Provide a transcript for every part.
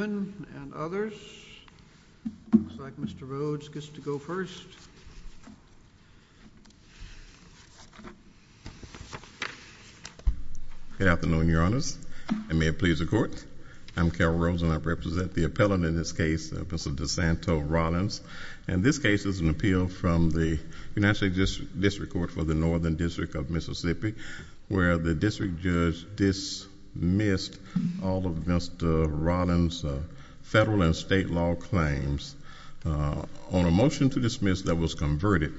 and others. Looks like Mr. Rhoades gets to go first. Good afternoon, Your Honors. And may it please the Court, I'm Carroll Rhoades and I represent the appellant in this case, Mr. DeSanto Rollins. And this case is an appeal from the United District Court for the Northern District of Mississippi, where the district judge dismissed all of Mr. Rollins' federal and state law claims on a motion to dismiss that was converted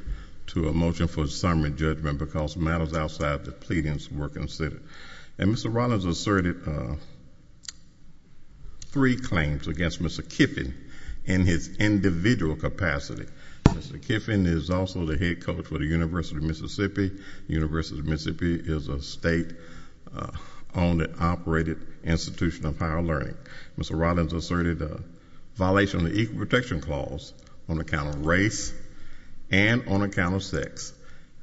to a motion for summary judgment because matters outside the pleadings were considered. And Mr. Rollins asserted three claims against Mr. Kiffin in his individual capacity. Mr. Kiffin is also the head coach for the University of Mississippi. The University of Mississippi is a state-owned and operated institution of higher learning. Mr. Rollins asserted a violation of the Equal Protection Clause on account of race and on account of sex.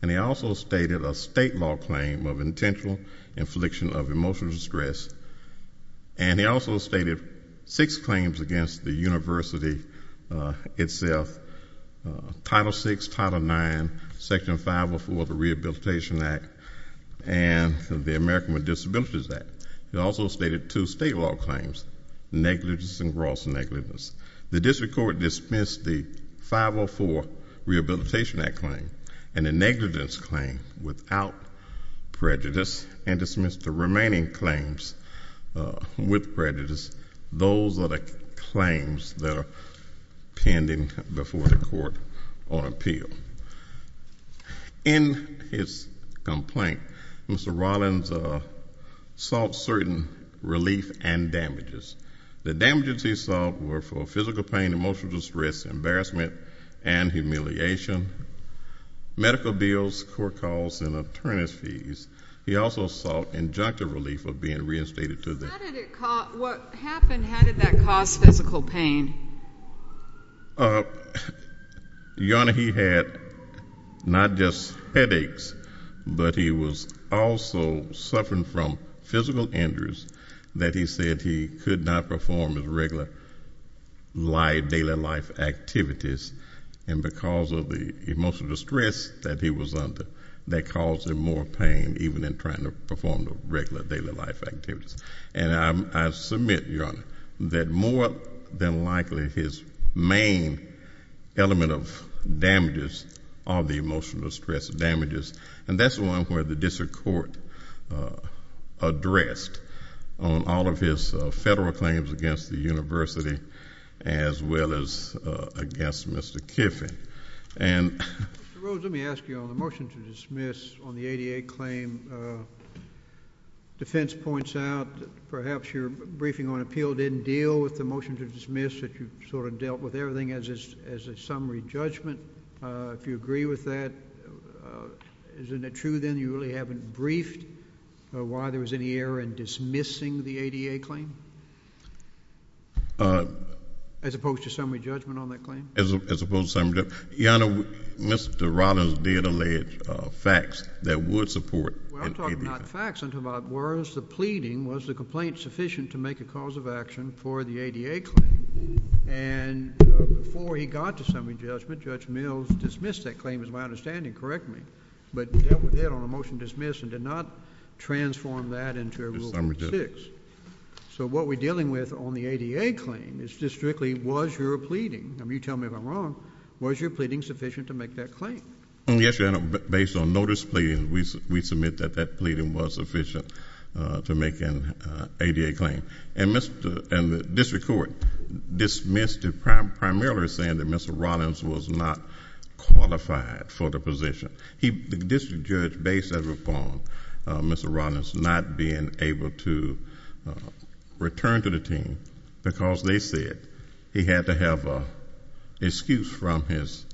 And he also stated a state law claim of intentional infliction of emotional distress. And he also stated six claims against the university itself, Title VI, Title IX, Section 504 of the Rehabilitation Act, and the American with Disabilities Act. He also stated two state law claims, negligence and gross negligence. The district court dismissed the 504 Rehabilitation Act claim and the negligence claim without prejudice and dismissed the remaining claims with prejudice. Those are the claims that are pending before the court on appeal. In his complaint, Mr. Kiffin stated damages. The damages he sought were for physical pain, emotional distress, embarrassment, and humiliation, medical bills, court calls, and attorney's fees. He also sought injunctive relief of being reinstated to the... How did it cost, what happened, how did that cause physical pain? Your Honor, he had not just headaches, but he was also suffering from physical injuries that he said he could not perform his regular life, daily life activities. And because of the emotional distress that he was under, that caused him more pain even in trying to perform the regular daily life activities. And I submit, Your Honor, that more than likely his main element of damages are the emotional distress damages. And that's the one where the district court addressed on all of his federal claims against the university as well as against Mr. Kiffin. Mr. Rhodes, let me ask you, on the motion to dismiss on the ADA claim, defense points out that perhaps your briefing on appeal didn't deal with the motion to dismiss that you sort of dealt with everything as a summary judgment. If you agree with that, isn't it true then you really haven't briefed why there was any error in dismissing the ADA claim? As opposed to summary judgment on that claim? As opposed to summary judgment. Your Honor, Mr. Rhodes did allege facts that would support the ADA. Well, I'm talking not facts, I'm talking about words. The pleading, was the complaint sufficient to make a cause of action for the ADA claim? And before he got to summary judgment, Judge Mills dismissed that claim as my understanding, correct me, but dealt with it on a motion to dismiss and did not transform that into a rule of six. So what we're dealing with on the ADA claim is just strictly was your pleading, and you tell me if I'm wrong, was your pleading sufficient to make that claim? Yes, Your Honor, based on notice pleading, we submit that that pleading was sufficient to make an ADA claim. And the district court dismissed it primarily saying that Mr. Rhodes was not qualified for the position. The district judge based that upon Mr. Rhodes not being able to return to the team because they said he had to have an excuse from his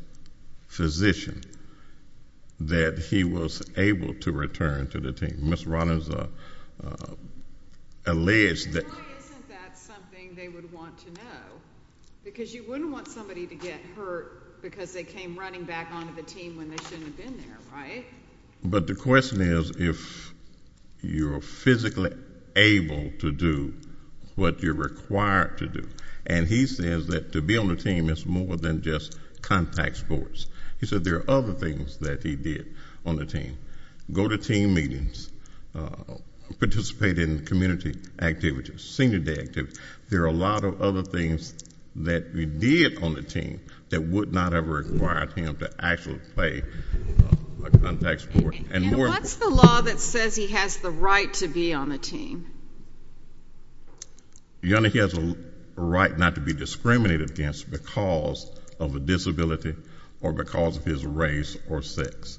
physician that he was able to return to the team. Mr. Rhodes alleged that... Why isn't that something they would want to know? Because you wouldn't want somebody to get hurt because they came running back onto the team when they shouldn't have been there, right? But the question is if you're physically able to do what you're required to do. And he says that to be on the team is more than just contact sports. He said there are other things that he did on the team. Go to team meetings, participate in community activities, senior day activities. There are a lot of other things that he did on the team that would not have required him to actually play a contact sport. And what's the law that says he has the right to be on the team? Your Honor, he has a right not to be discriminated against because of a disability or because of his race or sex.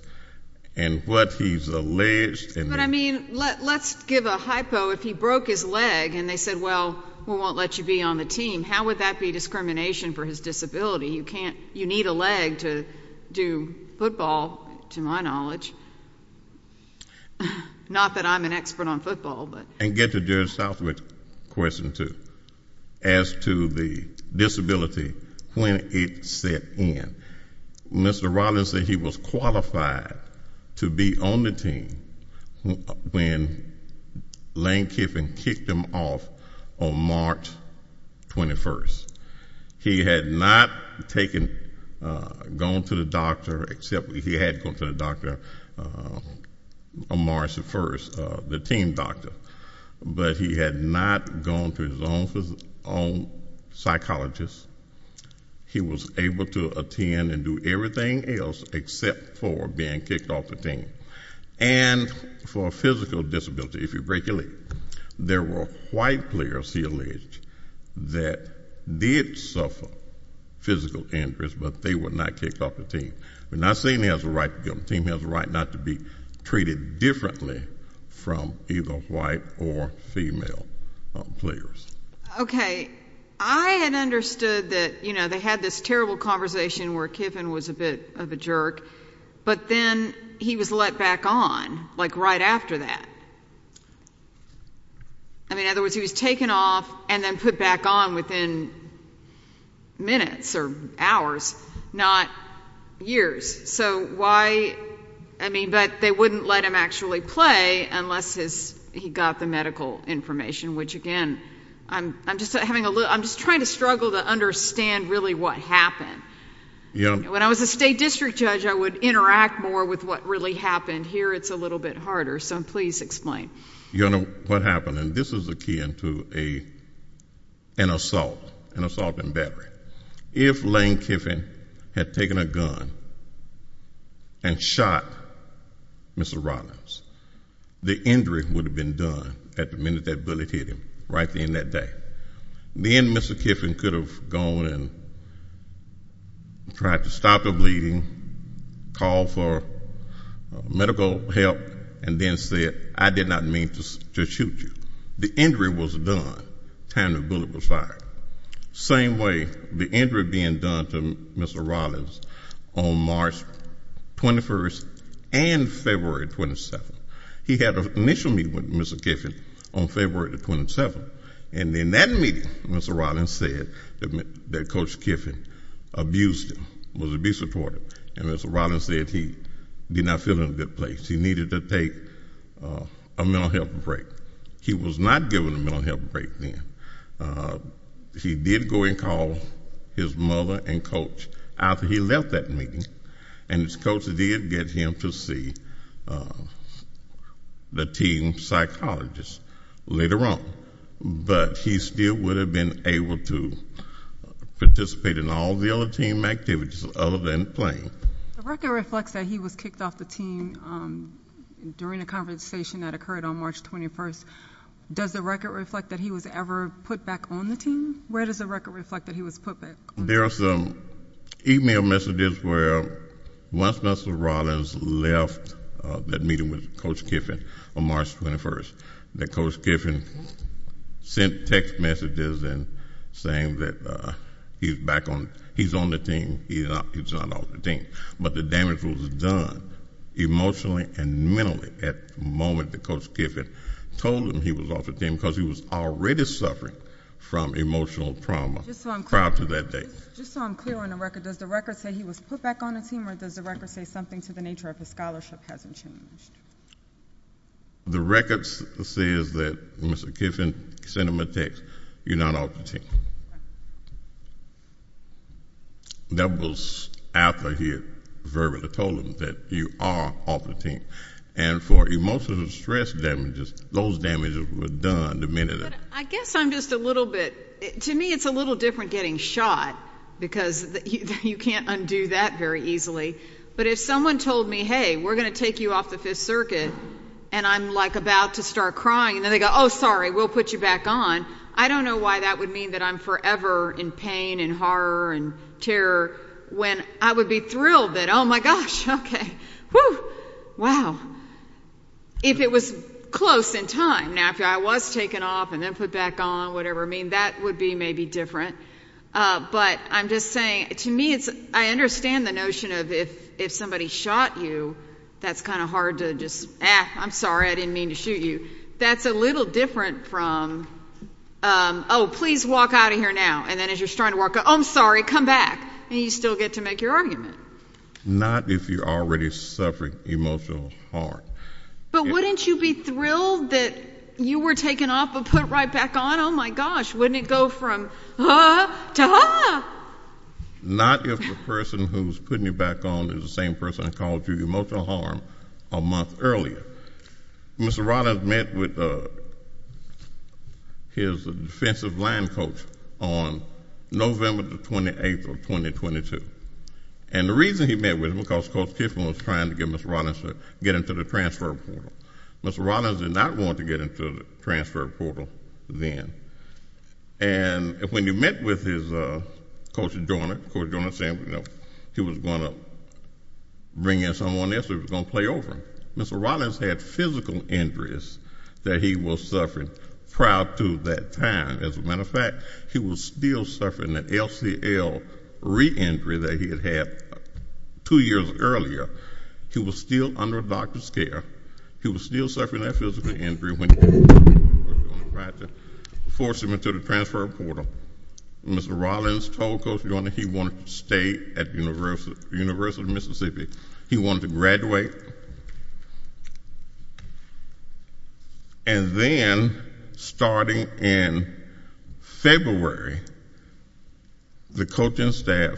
And what he's alleged in... But I mean, let's give a hypo if he broke his leg and they said, well, we won't let you be on the team. How would that be discrimination for his disability? You need a leg to do football, to my knowledge. Not that I'm an expert on football, but... And get to Judge Southwick's question, too. As to the disability, when it set in, Mr. Rollins said he was qualified to be on the team when Lane Kiffin kicked him off on March 21st. He had not taken... gone to the doctor except he had gone to the doctor on March 1st, the team doctor. But he had not gone to his own psychologist. He was able to attend and do everything else except for being kicked off the team. And for a physical disability, if you break your leg, there were white players, he alleged, that did suffer physical injuries, but they were not kicked off the team. We're not saying he has a right to be on the team. He has a right not to be treated differently from either white or female players. Okay. I had understood that, you know, they had this terrible conversation where Kiffin was a bit of a jerk, but then he was let back on, like right after that. I mean, in other words, he was taken off and then put back on within minutes or hours, not years. So why... I mean, but they wouldn't let him actually play unless he got the medical information, which again, I'm just having a little... I'm just trying to struggle to understand really what happened. You know, when I was a state district judge, I would interact more with what really happened. Here, it's a little bit harder. So please explain. Your Honor, what happened, and this is akin to an assault, an assault and battery. If Lane Kiffin had taken a gun and shot Mr. Rodman, the injury would have been done at the minute that bullet hit him, right at the end of that day. Then Mr. Kiffin could have gone and tried to stop the bleeding, called for medical help, and then said, I did not mean to shoot you. The injury was done at the time the bullet was fired. Same way, the injury being done to Mr. Rollins on March 21st and February 27th. He had an initial meeting with Mr. Kiffin on February 27th, and in that meeting, Mr. Rollins said that Coach Kiffin abused him, was abusive toward him, and Mr. Rollins said he did not feel in a good place. He needed to take a mental health break. He was not given a mental health break then. He did go and call his mother and coach after he left that meeting, and his coach did get him to be the team psychologist later on. But he still would have been able to participate in all the other team activities other than playing. The record reflects that he was kicked off the team during a conversation that occurred on March 21st. Does the record reflect that he was ever put back on the team? Where does the record reflect that he was put back? There are some email messages where once Mr. Rollins left that meeting with Coach Kiffin on March 21st, that Coach Kiffin sent text messages saying that he's back on, he's on the team, he's not off the team. But the damage was done emotionally and mentally at the moment that Coach Kiffin told him he was off the team because he was already suffering from emotional trauma prior to that day. Just so I'm clear on the record, does the record say he was put back on the team or does the record say something to the nature of his scholarship hasn't changed? The record says that Mr. Kiffin sent him a text, you're not off the team. That was after he verbally told him that you are off the team. And for emotional stress damages, those damages were done the minute that... I guess I'm just a little bit, to me it's a little different getting shot because you can't undo that very easily. But if someone told me, hey, we're going to take you off the fifth circuit and I'm like about to start crying and then they go, oh sorry, we'll put you back on. I don't know why that would mean that I'm forever in pain and horror and terror when I would be thrilled that, oh my gosh, okay, whew, wow. If it was close in time, now if I was taken off and then put back on, whatever, that would be maybe different. But I'm just saying, to me, I understand the notion of if somebody shot you, that's kind of hard to just, ah, I'm sorry, I didn't mean to shoot you. That's a little different from, oh, please walk out of here now. And then as you're starting to walk out, oh, I'm sorry, come back. And you still get to make your argument. Not if you're already suffering emotionally hard. But wouldn't you be thrilled that you were taken off and put right back on? Oh my gosh, wouldn't it go from, ah, to ah? Not if the person who's putting you back on is the same person who called you emotional harm a month earlier. Mr. Rollins met with his defensive line coach on November 28, 2022. And the reason he met with him, because Coach Tiffin was trying to get Mr. Rollins to get into the transfer portal. Mr. Rollins did not want to get into the transfer portal then. And when he met with his, ah, Coach Joyner, Coach Joyner said he was going to bring in someone else who was going to play over him. Mr. Rollins had physical injuries that he was suffering prior to that time. As a matter of fact, he was still suffering an LCL re-injury that he had had two years earlier. He was still under a doctor's care. He was still suffering that physical injury when he met with Coach Joyner on the right to force him into the transfer portal. Mr. Rollins told Coach Joyner he wanted to stay at the University of Mississippi. He wanted to graduate. And then, starting in February, the coaching staff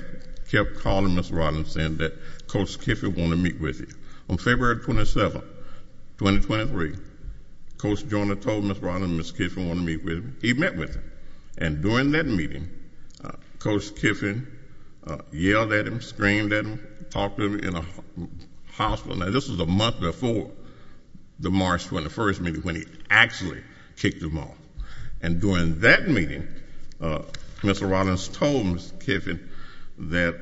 kept calling Mr. Rollins saying that Coach Tiffin wanted to meet with him. On February 27, 2023, Coach Joyner told Mr. Rollins that Mr. Tiffin wanted to meet with him. He met with him. And during that meeting, Coach Tiffin yelled at him, screamed at him, talked to him in the hospital. Now, this was a month before the March 21st meeting when he actually kicked him off. And during that meeting, Mr. Rollins told Mr. Tiffin that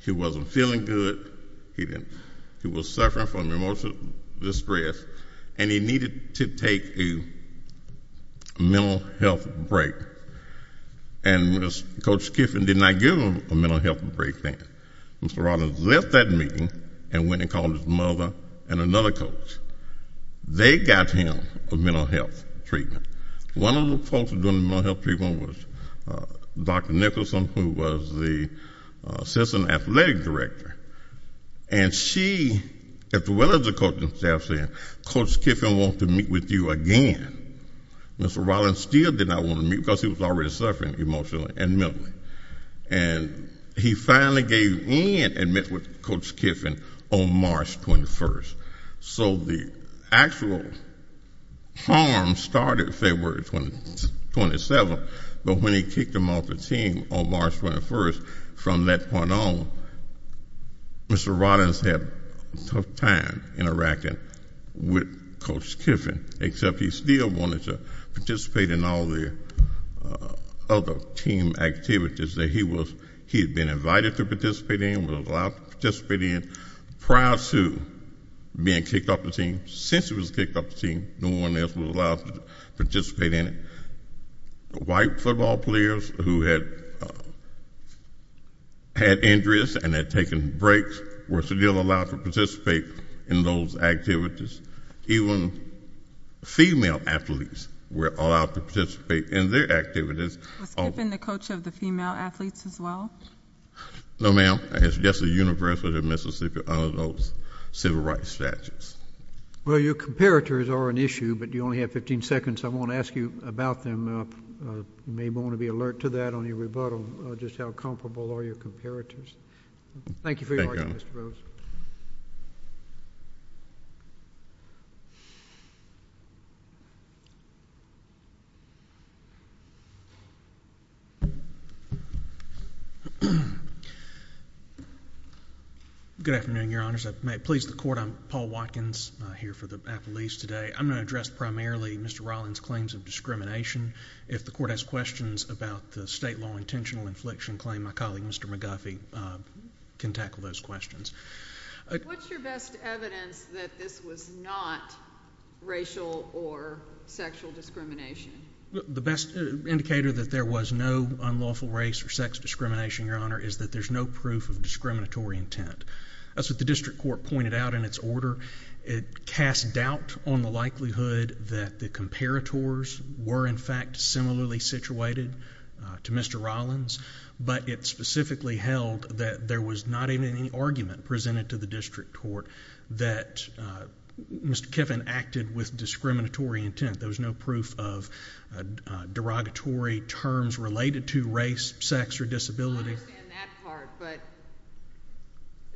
he wasn't feeling good, he was suffering from emotional distress, and he needed to take a mental health break. And Coach Tiffin did not give him a mental health break then. Mr. Rollins left that meeting and went and called his mother and another coach. They got him a mental health treatment. One of the folks doing the mental health treatment was Dr. Nicholson, who was the assistant athletic director. And she, as well as the coaching staff, said, Coach Tiffin wants to meet with you again. Mr. Rollins still did not want to meet because he was already suffering emotionally and mentally. And he finally gave in and met with Coach Tiffin on March 21st. So the actual harm started February 27, but when he kicked him off the team on March 21st, from that point on, Mr. Rollins had a tough time interacting with Coach Tiffin, except he still wanted to participate in all the other team activities that he had been invited to participate in, was allowed to participate in, prior to being kicked off the team. Since he was kicked off the team, no one else was allowed to participate in it. White football players who had had injuries and had taken breaks were still allowed to participate in those activities. Even female athletes were allowed to participate in their activities. Was Coach Tiffin the coach of the female athletes as well? No, ma'am. It's just the University of Mississippi under those civil rights statutes. Well, your comparators are an issue, but you only have 15 seconds. I want to ask you about them. You may want to be alert to that on your rebuttal, just how comparable are your comparators. Thank you for your argument, Mr. Rose. Good afternoon, Your Honors. I please the Court. I'm Paul Watkins, here for the affiliates today. I'm going to address primarily Mr. Rollins' claims of discrimination. If the Court has questions about the state law intentional infliction claim, my colleague, Mr. McGuffey, can tackle those questions. What's your best evidence that this was not racial or sexual discrimination? The best indicator that there was no unlawful race or sex discrimination, Your Honor, is that there's no proof of discriminatory intent. As the District Court pointed out in its order, it cast doubt on the likelihood that the comparators were in fact similarly situated to Mr. Rollins, but it specifically held that there was not even any argument presented to the District Court that Mr. Kiffin acted with discriminatory intent. There was no proof of derogatory terms related to race, sex, or disability. I understand that part, but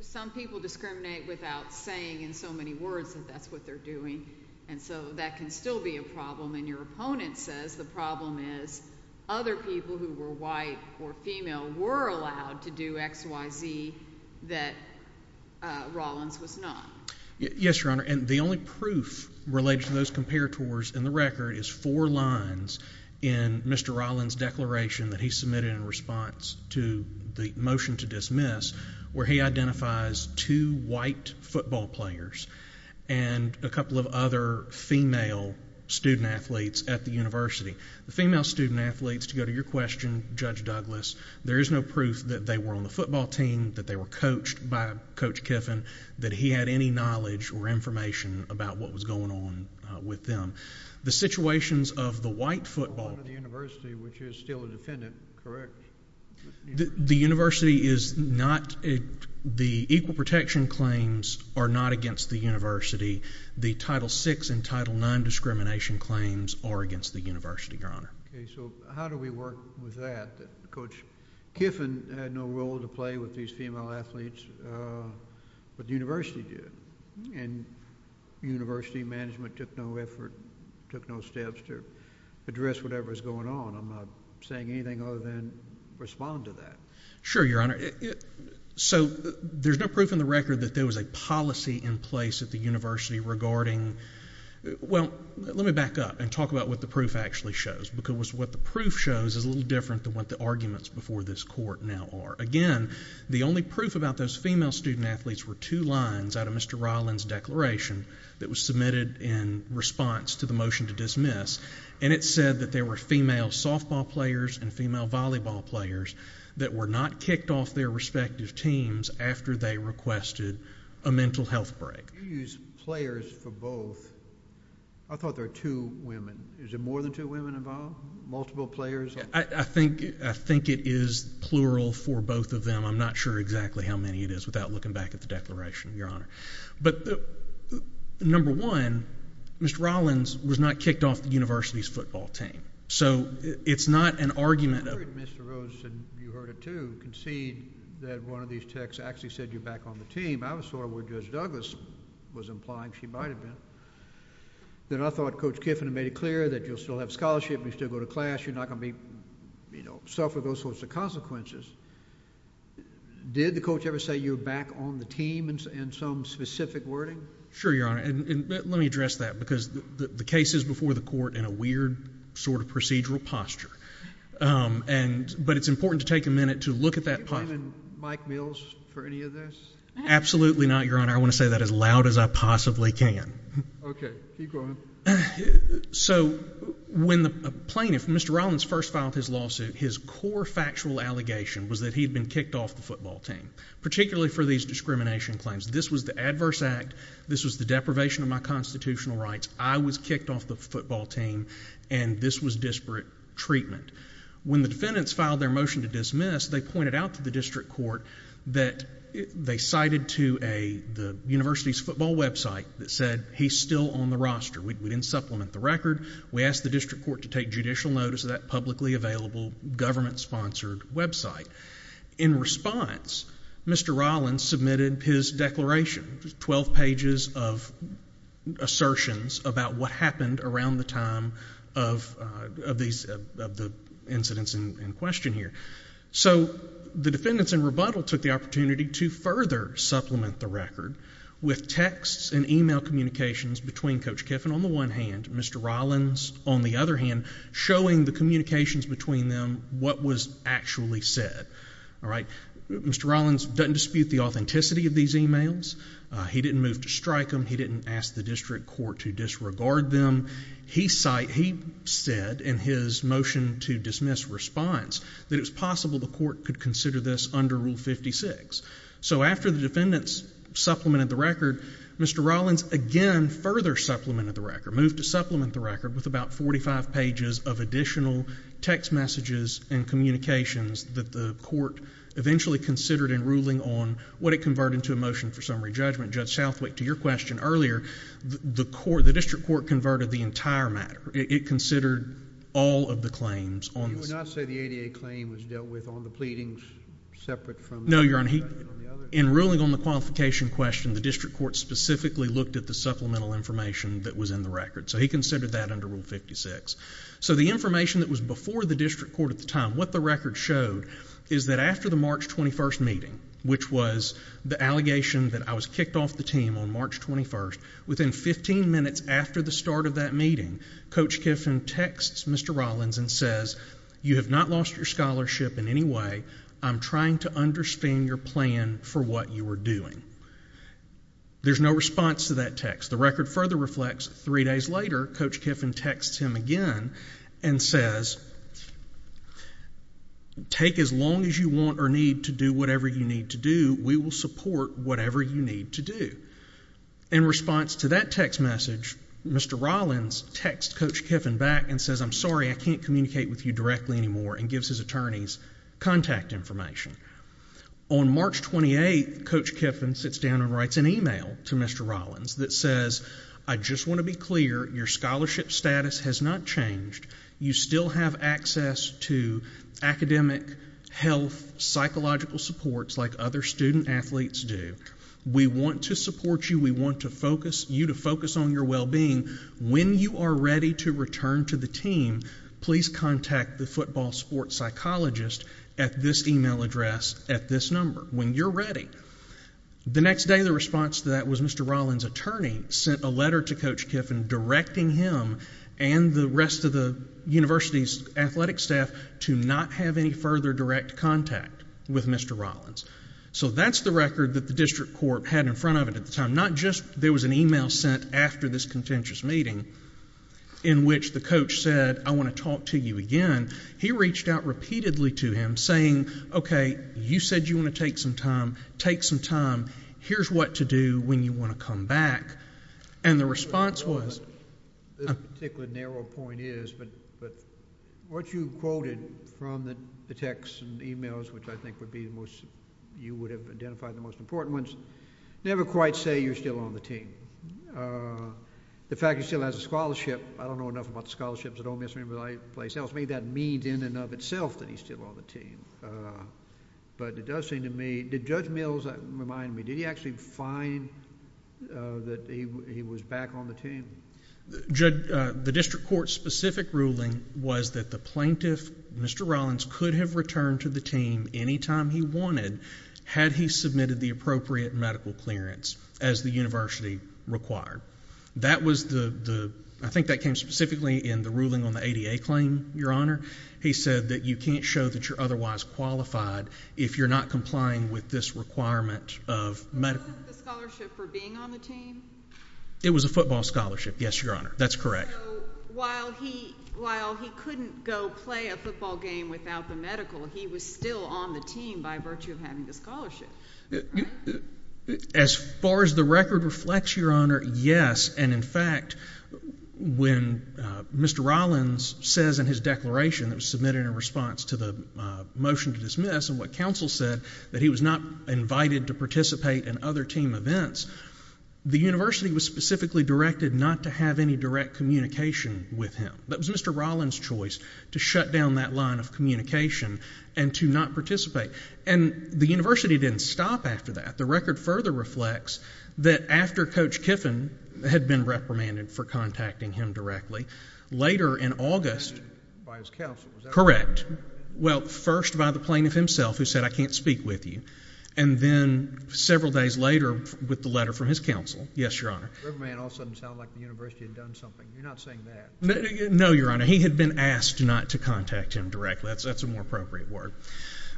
some people discriminate without saying in so many words that that's what they're doing, and so that can still be a problem. And your opponent says the problem is other people who were white or female were allowed to do XYZ that Rollins was not. Yes, Your Honor, and the only proof related to those comparators in the record is four lines in Mr. Rollins' declaration that he submitted in response to the motion to dismiss where he identifies two white football players and a couple of other female student-athletes at the university. The female student-athletes, to go to your question, Judge Douglas, there is no proof that they were on the football team, that they were coached by Coach Kiffin, that he had any knowledge or information about what was going on with them. The situations of the white football— One of the universities, which is still a defendant, correct? The university is not—the equal protection claims are not against the university. The Title VI and Title IX discrimination claims are against the university, Your Honor. Okay, so how do we work with that? Coach Kiffin had no role to play with these female athletes, but the university did, and university management took no effort, took no steps to address whatever was going on. I'm not saying anything other than respond to that. Sure, Your Honor. So there's no proof in the record that there was a policy in place at the university regarding—well, let me back up and talk about what the proof actually shows, because what the proof shows is a little different than what the arguments before this court now are. Again, the only proof about those female student-athletes were two lines out of Mr. Ryland's declaration that was submitted in response to the motion to dismiss, and it said that there were female softball players and female volleyball players that were not kicked off their respective teams after they requested a mental health break. You used players for both. I thought there were two women. Is there more than two women involved? Multiple players? I think it is plural for both of them. I'm not sure exactly how many it is without looking back at the declaration, Your Honor. But number one, Mr. Ryland's was not kicked off the university's football team. So it's not an argument— I heard Mr. Rosen, you heard it too, concede that one of these texts actually said you're back on the team. I was sort of where Judge Douglas was implying she might have been. Then I thought Coach Kiffin had made it clear that you'll still have scholarship, you'll still go to class, you're not going to be, you know, suffer those sorts of consequences. Did the coach ever say you're back on the team in some specific wording? Sure, Your Honor, and let me address that, because the case is before the court in a weird sort of procedural posture, but it's important to take a minute to look at that Do you blame Mike Mills for any of this? Absolutely not, Your Honor. I want to say that as loud as I possibly can. Okay, keep going. So when the plaintiff, Mr. Ryland's first filed his lawsuit, his core factual allegation was that he'd been kicked off the football team, particularly for these discrimination claims. This was the adverse act, this was the deprivation of my constitutional rights, I was kicked off the football team, and this was disparate treatment. When the defendants filed their motion to dismiss, they pointed out to the district court that they cited to the university's football website that said he's still on the roster. We didn't supplement the record. We asked the district court to take judicial notice of that publicly available government-sponsored website. In response, Mr. Ryland submitted his declaration, 12 pages of assertions about what happened around the time of the incidents in question here. So the defendants in rebuttal took the opportunity to further supplement the record with texts and email communications between Coach Kiffin on the one hand, Mr. Ryland's on the other hand, showing the communications between them what was actually said. Mr. Ryland doesn't dispute the authenticity of these emails. He didn't move to strike them. He didn't ask the district court to disregard them. He said in his motion to dismiss response that it was possible the court could consider this under Rule 56. So after the defendants supplemented the record, Mr. Ryland again further supplemented the record, moved to supplement the record with about 45 pages of additional text messages and communications that the court eventually considered in ruling on what it converted to a motion for summary judgment. Judge Southwick, to your question earlier, the court, the district court converted the entire matter. It considered all of the claims on this. You would not say the ADA claim was dealt with on the pleadings separate from the record? No, Your Honor. In ruling on the qualification question, the district court specifically looked at the supplemental information that was in the record. So he considered that under Rule 56. So the information that was before the district court at the time, what the record showed is that after the March 21st meeting, which was the allegation that I was kicked off the team on March 21st, within 15 minutes after the start of that meeting, Coach Kiffin texts Mr. Ryland and says, you have not lost your scholarship in any way. I'm trying to understand your plan for what you were doing. There's no response to that text. The record further reflects three days later, Coach Kiffin texts him again and says, take as long as you want or need to do whatever you need to do. We will support whatever you need to do. In response to that text message, Mr. Ryland texts Coach Kiffin back and says, I'm sorry, I can't communicate with you directly anymore, and gives his attorneys contact information. On March 28th, Coach Kiffin sits down and writes an email to Mr. Ryland that says, I just want to be clear, your scholarship status has not changed. You still have access to academic, health, psychological supports like other student-athletes do. We want to support you. We want you to focus on your well-being. When you are ready to return to the team, please contact the football sports psychologist at this email address at this number. When you're ready. The next day, the response to that was Mr. Ryland's attorney sent a letter to Coach Kiffin directing him and the rest of the university's athletic staff to not have any further direct contact with Mr. Ryland. So that's the record that the district court had in front of it at the time. Not just there was an email sent after this contentious meeting in which the coach said, I want to talk to you again. He reached out repeatedly to him saying, okay, you said you want to take some time. Take some time. Here's what to do when you want to come back. And the response was. This particular narrow point is, but what you quoted from the texts and emails, which I think would be the most, you would have identified the most important ones, never quite say you're still on the team. The fact that he still has a scholarship, I don't know enough about the scholarships at Ole Miss or any other place else, maybe that means in and of itself that he's still on the team. But it does seem to me, did Judge Mills remind me, did he actually find that he was back on the team? Judge, the district court's specific ruling was that the plaintiff, Mr. Ryland, could have returned to the team any time he wanted had he submitted the appropriate medical clearance as the university required. That was the, I think that came specifically in the ruling on the ADA claim, Your Honor. He said that you can't show that you're otherwise qualified if you're not complying with this requirement of medical. Wasn't the scholarship for being on the team? It was a football scholarship, yes, Your Honor. That's correct. So while he couldn't go play a football game without the medical, he was still on the team by virtue of having the scholarship. As far as the record reflects, Your Honor, yes. And in fact, when Mr. Ryland says in his declaration that was submitted in response to the motion to dismiss and what counsel said, that he was not invited to participate in other team events, the university was specifically directed not to have any direct communication with him. That was Mr. Ryland's choice to stop after that. The record further reflects that after Coach Kiffin had been reprimanded for contacting him directly, later in August, correct, well, first by the plaintiff himself who said, I can't speak with you. And then several days later with the letter from his counsel, yes, Your Honor. The reprimand all of a sudden sounded like the university had done something. You're not saying that. No, Your Honor. He had been asked not to contact him directly. That's a more appropriate word.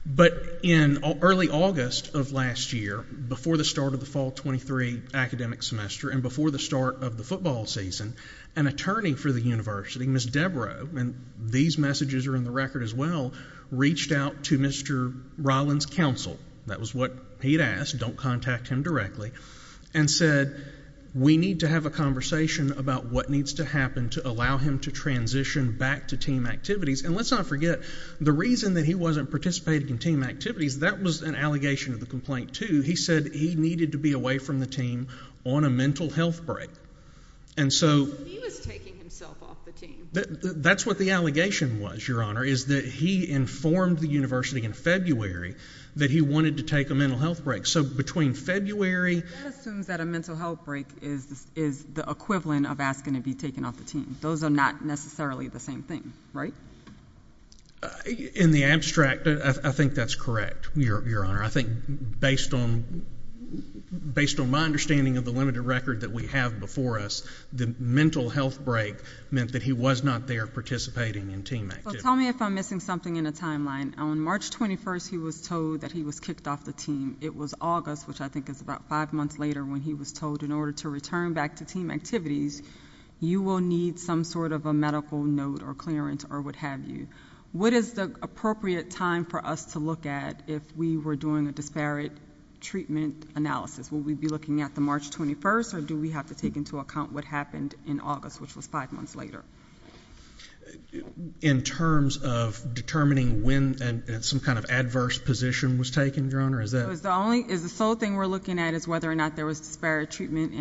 But in early August of last year, before the start of the fall 23 academic semester and before the start of the football season, an attorney for the university, Ms. Debra, and these messages are in the record as well, reached out to Mr. Ryland's counsel. That was what he had asked, don't contact him directly. And said, we need to have a conversation about what needs to happen to allow him to transition back to team activities. And let's not forget the reason that he wasn't participating in team activities, that was an allegation of the complaint too. He said he needed to be away from the team on a mental health break. And so... He was taking himself off the team. That's what the allegation was, Your Honor, is that he informed the university in February that he wanted to take a mental health break. So between February... That assumes that a mental health break is the equivalent of asking to be taken off the team, right? In the abstract, I think that's correct, Your Honor. I think based on my understanding of the limited record that we have before us, the mental health break meant that he was not there participating in team activities. Tell me if I'm missing something in the timeline. On March 21st, he was told that he was kicked off the team. It was August, which I think is about five months later when he was told in order to return back to team activities, you will need some sort of a medical note or clearance or what have you. What is the appropriate time for us to look at if we were doing a disparate treatment analysis? Will we be looking at the March 21st or do we have to take into account what happened in August, which was five months later? In terms of determining when some kind of adverse position was taken, Your Honor, is that... Is the sole thing we're looking at is whether or not there was disparate treatment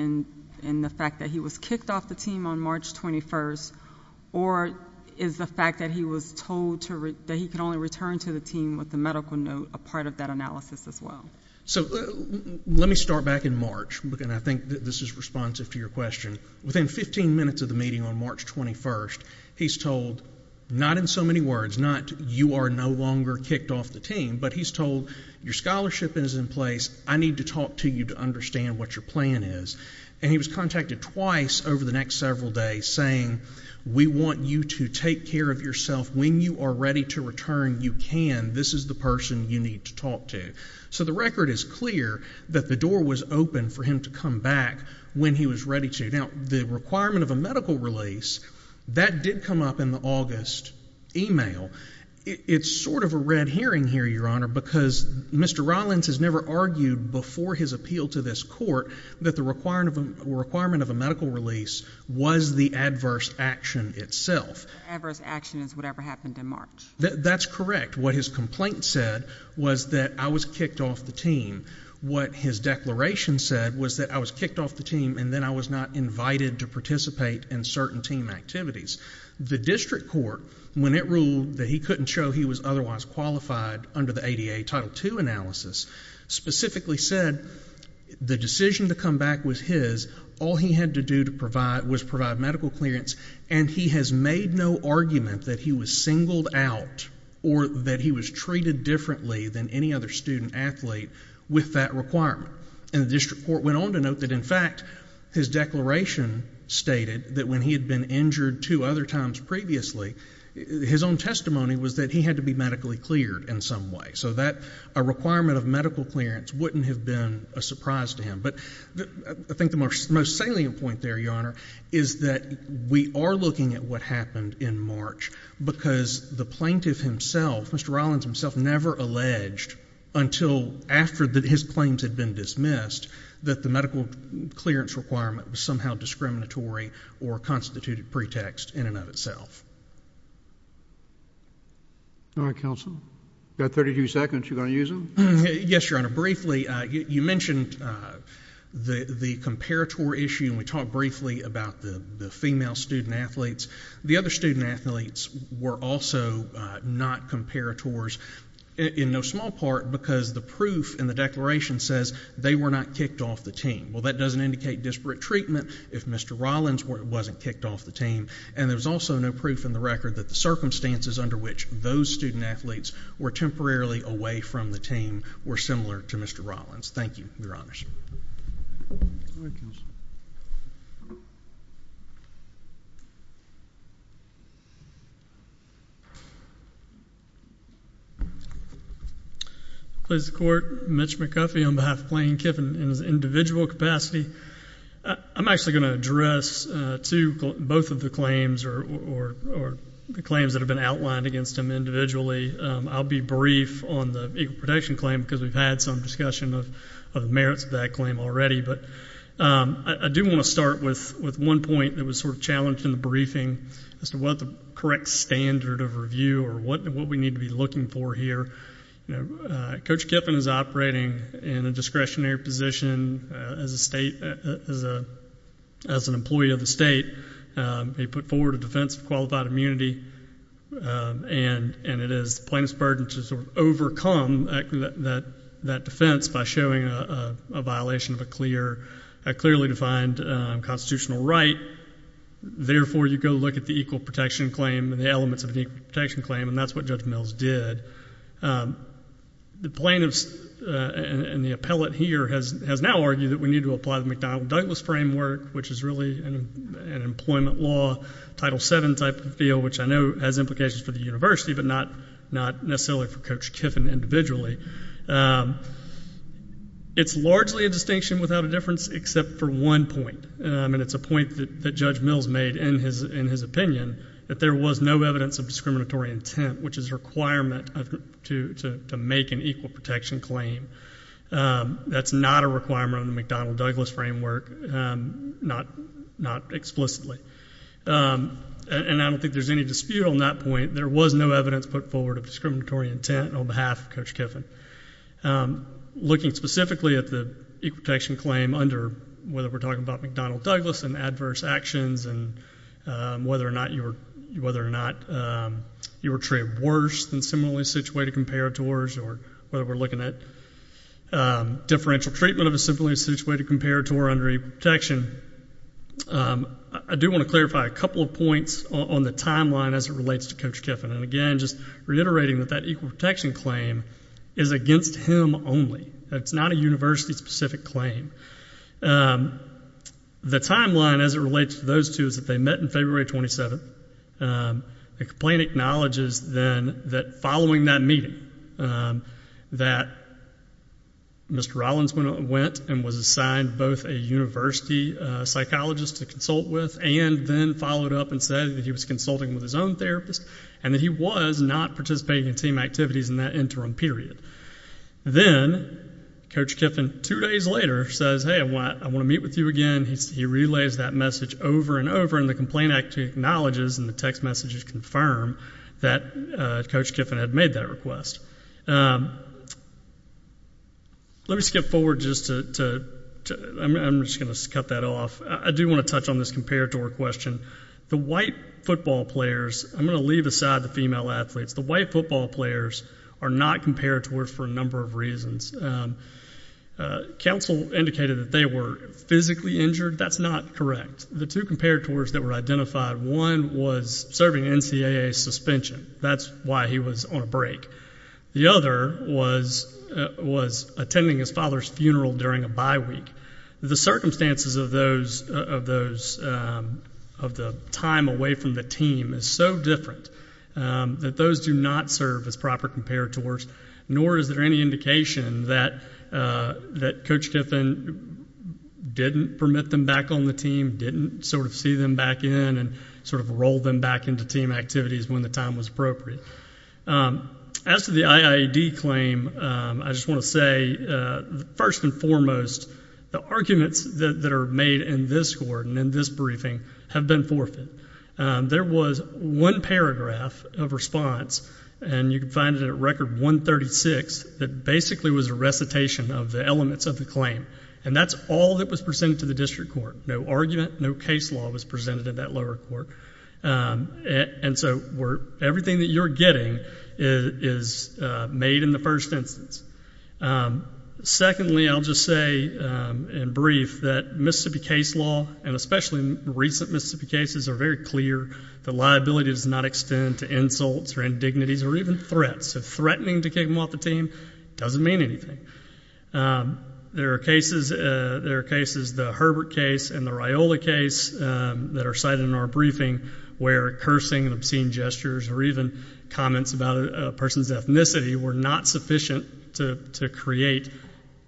in the fact that he was kicked off the team on March 21st or is the fact that he was told that he could only return to the team with the medical note a part of that analysis as well? Let me start back in March. I think this is responsive to your question. Within 15 minutes of the meeting on March 21st, he's told, not in so many words, not you are no longer kicked off the team, but he's told your scholarship is in place. I need to talk to you to understand what your plan is. And he was contacted twice over the next several days saying, we want you to take care of yourself. When you are ready to return, you can. This is the person you need to talk to. So the record is clear that the door was open for him to come back when he was ready to. Now, the requirement of a medical release, that did come up in the August email. It's sort of a red herring here, Your Honor, because Mr. Rollins has never argued before his appeal to this court that the requirement of a medical release was the adverse action itself. Adverse action is whatever happened in March. That's correct. What his complaint said was that I was kicked off the team. What his declaration said was that I was kicked off the team and then I was not invited to participate in certain team activities. The district court, when it ruled that he couldn't show he was otherwise qualified under the ADA Title II analysis, specifically said the decision to come back was his. All he had to do was provide medical clearance and he has made no argument that he was singled out or that he was treated differently than any other student athlete with that requirement. And the district court went on to note that, in fact, his declaration stated that when he had been injured two other times previously, his own testimony was that he had to be medically cleared in some way. So a requirement of medical clearance wouldn't have been a surprise to him. But I think the most salient point there, Your Honor, is that we are looking at what happened in March because the plaintiff himself, Mr. Rollins himself, never alleged until after his claims had been dismissed that the medical clearance requirement was somehow discriminatory or constituted pretext in and of itself. All right, counsel. You've got 32 seconds. You going to use them? Yes, Your Honor. Briefly, you mentioned the comparator issue and we talked briefly about the female student athletes. The other student athletes were also not comparators in no small part because the proof in the declaration says they were not kicked off the team. Well, that doesn't indicate disparate treatment if Mr. Rollins wasn't kicked off the team. And there's also no proof in the record that the circumstances under which those student athletes were temporarily away from the team were similar to Mr. Rollins. Thank you, Your Honor. All right, counsel. Please support Mitch McCuffie on behalf of Plain and Kiffin in his individual capacity. I'm actually going to address two, both of the claims or the claims that have been outlined against him individually. I'll be brief on the individual protection claim because we've had some discussion of the merits of that claim already. I do want to start with one point that was sort of challenged in the briefing as to what the correct standard of review or what we need to be looking for here. Coach Kiffin is operating in a discretionary position as an employee of the state. He put forward a defense of non-immunity, and it is the plaintiff's burden to overcome that defense by showing a violation of a clearly defined constitutional right. Therefore, you go look at the equal protection claim and the elements of an equal protection claim, and that's what Judge Mills did. The plaintiffs and the appellate here has now argued that we need to apply the McDonnell-Douglas framework, which is really an employment law, Title VII type of field, which I know has implications for the university, but not necessarily for Coach Kiffin individually. It's largely a distinction without a difference except for one point, and it's a point that Judge Mills made in his opinion, that there was no evidence of discriminatory intent, which is a requirement to make an equal protection claim. That's not a requirement under the McDonnell-Douglas framework, not explicitly. And I don't think there's any dispute on that point. There was no evidence put forward of discriminatory intent on behalf of Coach Kiffin. Looking specifically at the equal protection claim under whether we're talking about McDonnell-Douglas and adverse actions and whether or not you were treated worse than similarly situated comparators or whether we're looking at differential treatment of a similarly situated comparator under equal protection, I do want to clarify a couple of points on the timeline as it relates to Coach Kiffin. And again, just reiterating that that equal protection claim is against him only. It's not a university-specific claim. The timeline as it relates to those two is that they met in February 27th. The complaint acknowledges then that following that meeting that Mr. Rollins went and was assigned both a university psychologist to consult with and then followed up and said that he was consulting with his own therapist and that he was not participating in team activities in that interim period. Then Coach Kiffin, two days later, says, hey, I want to meet with you again. He relays that message over and over and the complaint actually acknowledges and the text messages confirm that Coach Kiffin had made that request. Let me skip forward just to, I'm just going to cut that off. I do want to touch on this comparator question. The white football players, I'm going to leave aside the female athletes. The white football players are not comparators for a number of reasons. Council indicated that they were physically injured. That's not correct. The two comparators that were identified, one was serving NCAA suspension. That's why he was on a break. The other was attending his father's funeral during a bye week. The circumstances of those of the time away from the team is so different that those do not serve as proper comparators, nor is there any indication that Coach Kiffin didn't permit them back on the team, didn't sort of see them back in and sort of roll them back into team activities when the time was appropriate. As to the IIED claim, I just want to say first and foremost, the arguments that are made in this court and in this briefing have been forfeit. There was one paragraph of response, and you can find it at record 136, that basically was a recitation of the elements of the claim. And that's all that was presented to the district court. No argument, no case law was presented at that lower court. And so everything that you're getting is made in the first instance. Secondly, I'll just say in brief that Mississippi case law, and especially recent Mississippi cases, are very clear that liability does not extend to insults or indignities or even threats. So threatening to kick them off the team doesn't mean anything. There are cases, the Herbert case and the Riola case that are cited in our briefing, where cursing and obscene gestures or even comments about a person's ethnicity were not sufficient to create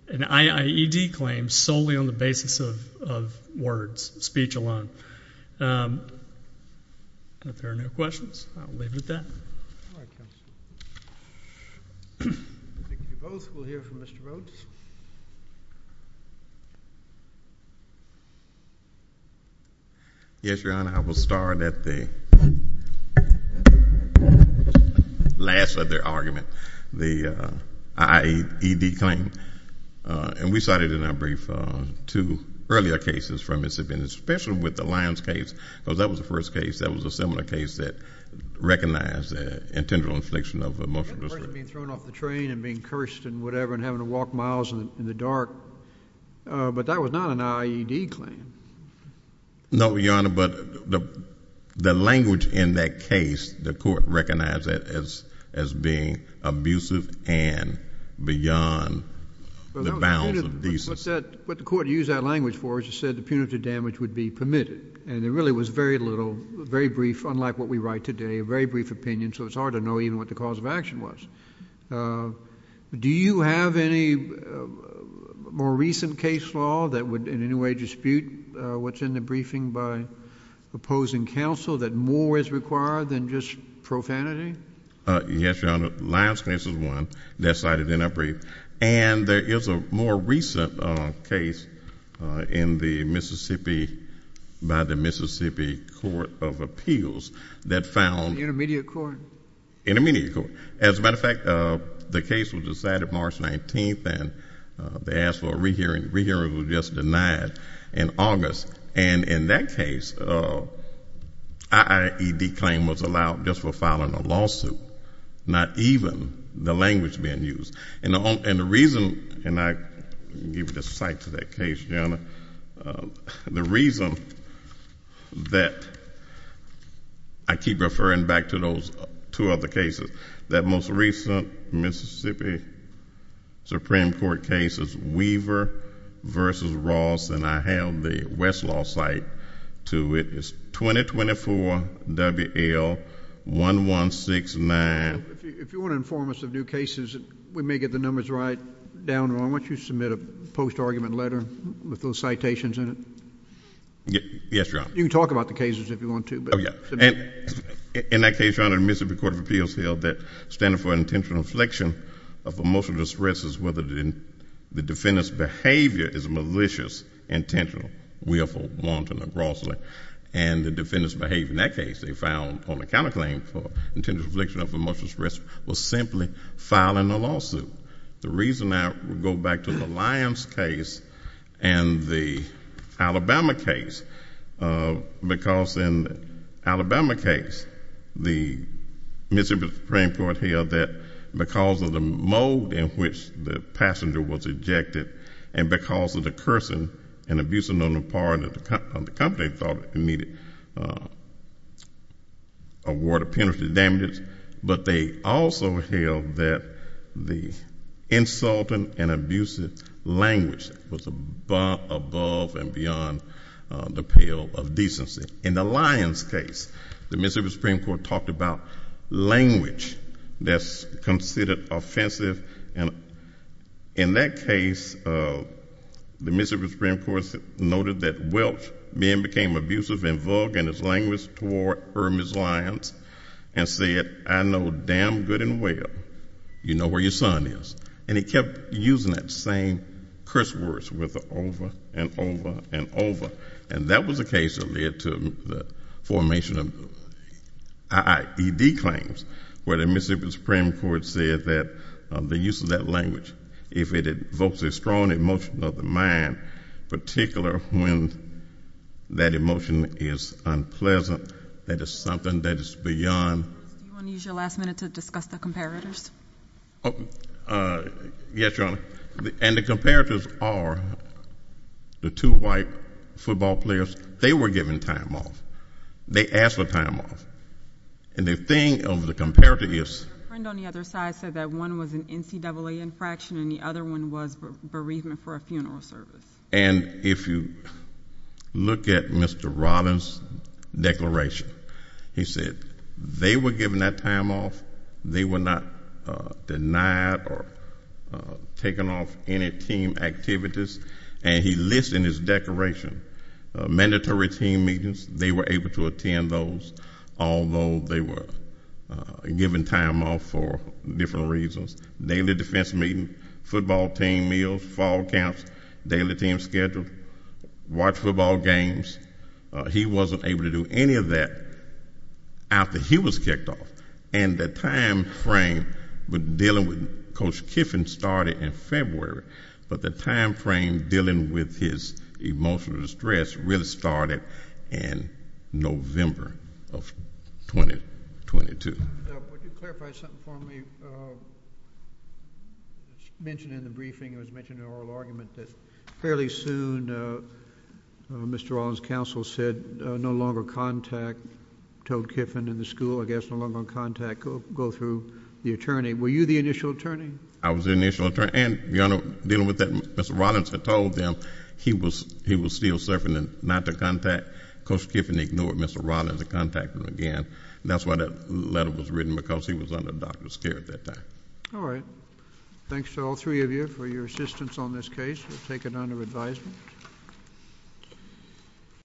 an IIED claim solely on the basis of words, speech alone. If there are no questions, I'll leave it at that. Thank you both. We'll hear from Mr. Rhodes. Yes, Your Honor, I will start at the last of their argument, the IIED claim. And we cited in our brief two earlier cases from Mississippi, and especially with the Lyons case, because that was the first case that was a similar case that recognized intended infliction of emotional distress. That person being thrown off the train and being cursed and whatever and having to walk miles in the dark, but that was not an IIED claim. No, Your Honor, but the language in that case, the court recognized that as being abusive and beyond the bounds of decency. But the court used that language for it. It just said the punitive damage would be permitted. And there really was very little, very brief, unlike what we write today, a very brief opinion, so it's hard to know even what the cause of action was. Do you have any more recent case law that would in any way dispute what's in the briefing by opposing counsel, that more is required than just profanity? Yes, Your Honor. Lyons case is one that's cited in our brief. And there is a more recent case in the Mississippi, by the Mississippi Court of Appeals, that found— Intermediate court. Intermediate court. As a matter of fact, the case was decided March 19th and they asked for a re-hearing. The re-hearing was just denied in August. And in that case, our IAED claim was allowed just for filing a lawsuit, not even the language being used. And the reason, and I give the site to that case, Your Honor, the reason that I keep referring back to those two other cases, that most recent Mississippi Supreme Court case is Weaver v. Ross, and I have the Westlaw site to it. It's 2024-WL-1169. If you want to inform us of new cases, we may get the numbers right down, but I want you to submit a post-argument letter with those citations in it. Yes, Your Honor. You can talk about the cases if you want to. In that case, Your Honor, Mississippi Court of Appeals held that standing for intentional inflection of emotional distress is whether the defendant's behavior is malicious, intentional, willful, wanton, or grossly. And the defendant's behavior in that case, they found on the counterclaim for intentional inflection of emotional distress was simply filing a lawsuit. The reason I go back to the Lyons case and the Alabama case, because in the Alabama case, the Mississippi Supreme Court held that because of the mode in which the passenger was ejected and because of the cursing and abusing on the part of the company, they thought it needed a ward of penalty damages. But they also held that the insulting and abusive language was above and beyond the pale of decency. In the Lyons case, the Mississippi Supreme Court talked about language that's considered offensive, and in that case, the Mississippi Supreme Court noted that, well, men became abusive and vulgar in their language toward Hermes Lyons and said, I know damn good and well you know where your son is. And he kept using that same curse words over and over and over. And that was a case that led to the formation of I.I.E.D. claims, where the Mississippi Supreme Court said that the use of that language, if it evokes a strong emotion of the unpleasant, that is something that is beyond. Yes, Your Honor. And the comparators are the two white football players. They were given time off. They asked for time off. And the thing of the comparator is And if you look at Mr. Robbins, declaration, he said they were given that time off. They were not denied or taken off any team activities. And he lists in his declaration mandatory team meetings. They were able to attend those, although they were given time off for different reasons. Daily defense meeting, football team meals, fall camps, daily team schedule, watch football games. He wasn't able to do any of that after he was kicked off. And the time frame with dealing with Coach Kiffin started in February. But the time frame dealing with his emotional distress really started in November of 2022. Would you clarify something for me? Mentioned in the briefing, it was mentioned in oral argument that fairly soon Mr. Robbins' counsel said no longer contact, told Kiffin and the school, I guess, no longer contact, go through the attorney. Were you the initial attorney? I was the initial attorney. And, Your Honor, dealing with that, Mr. Robbins had told them he was still serving and not to contact. Coach Kiffin ignored Mr. Robbins to contact him again. That's why that letter was written, because he was under doctor's care at that time. All right. Thanks to all three of you for your assistance on this case. We'll take it under advisement.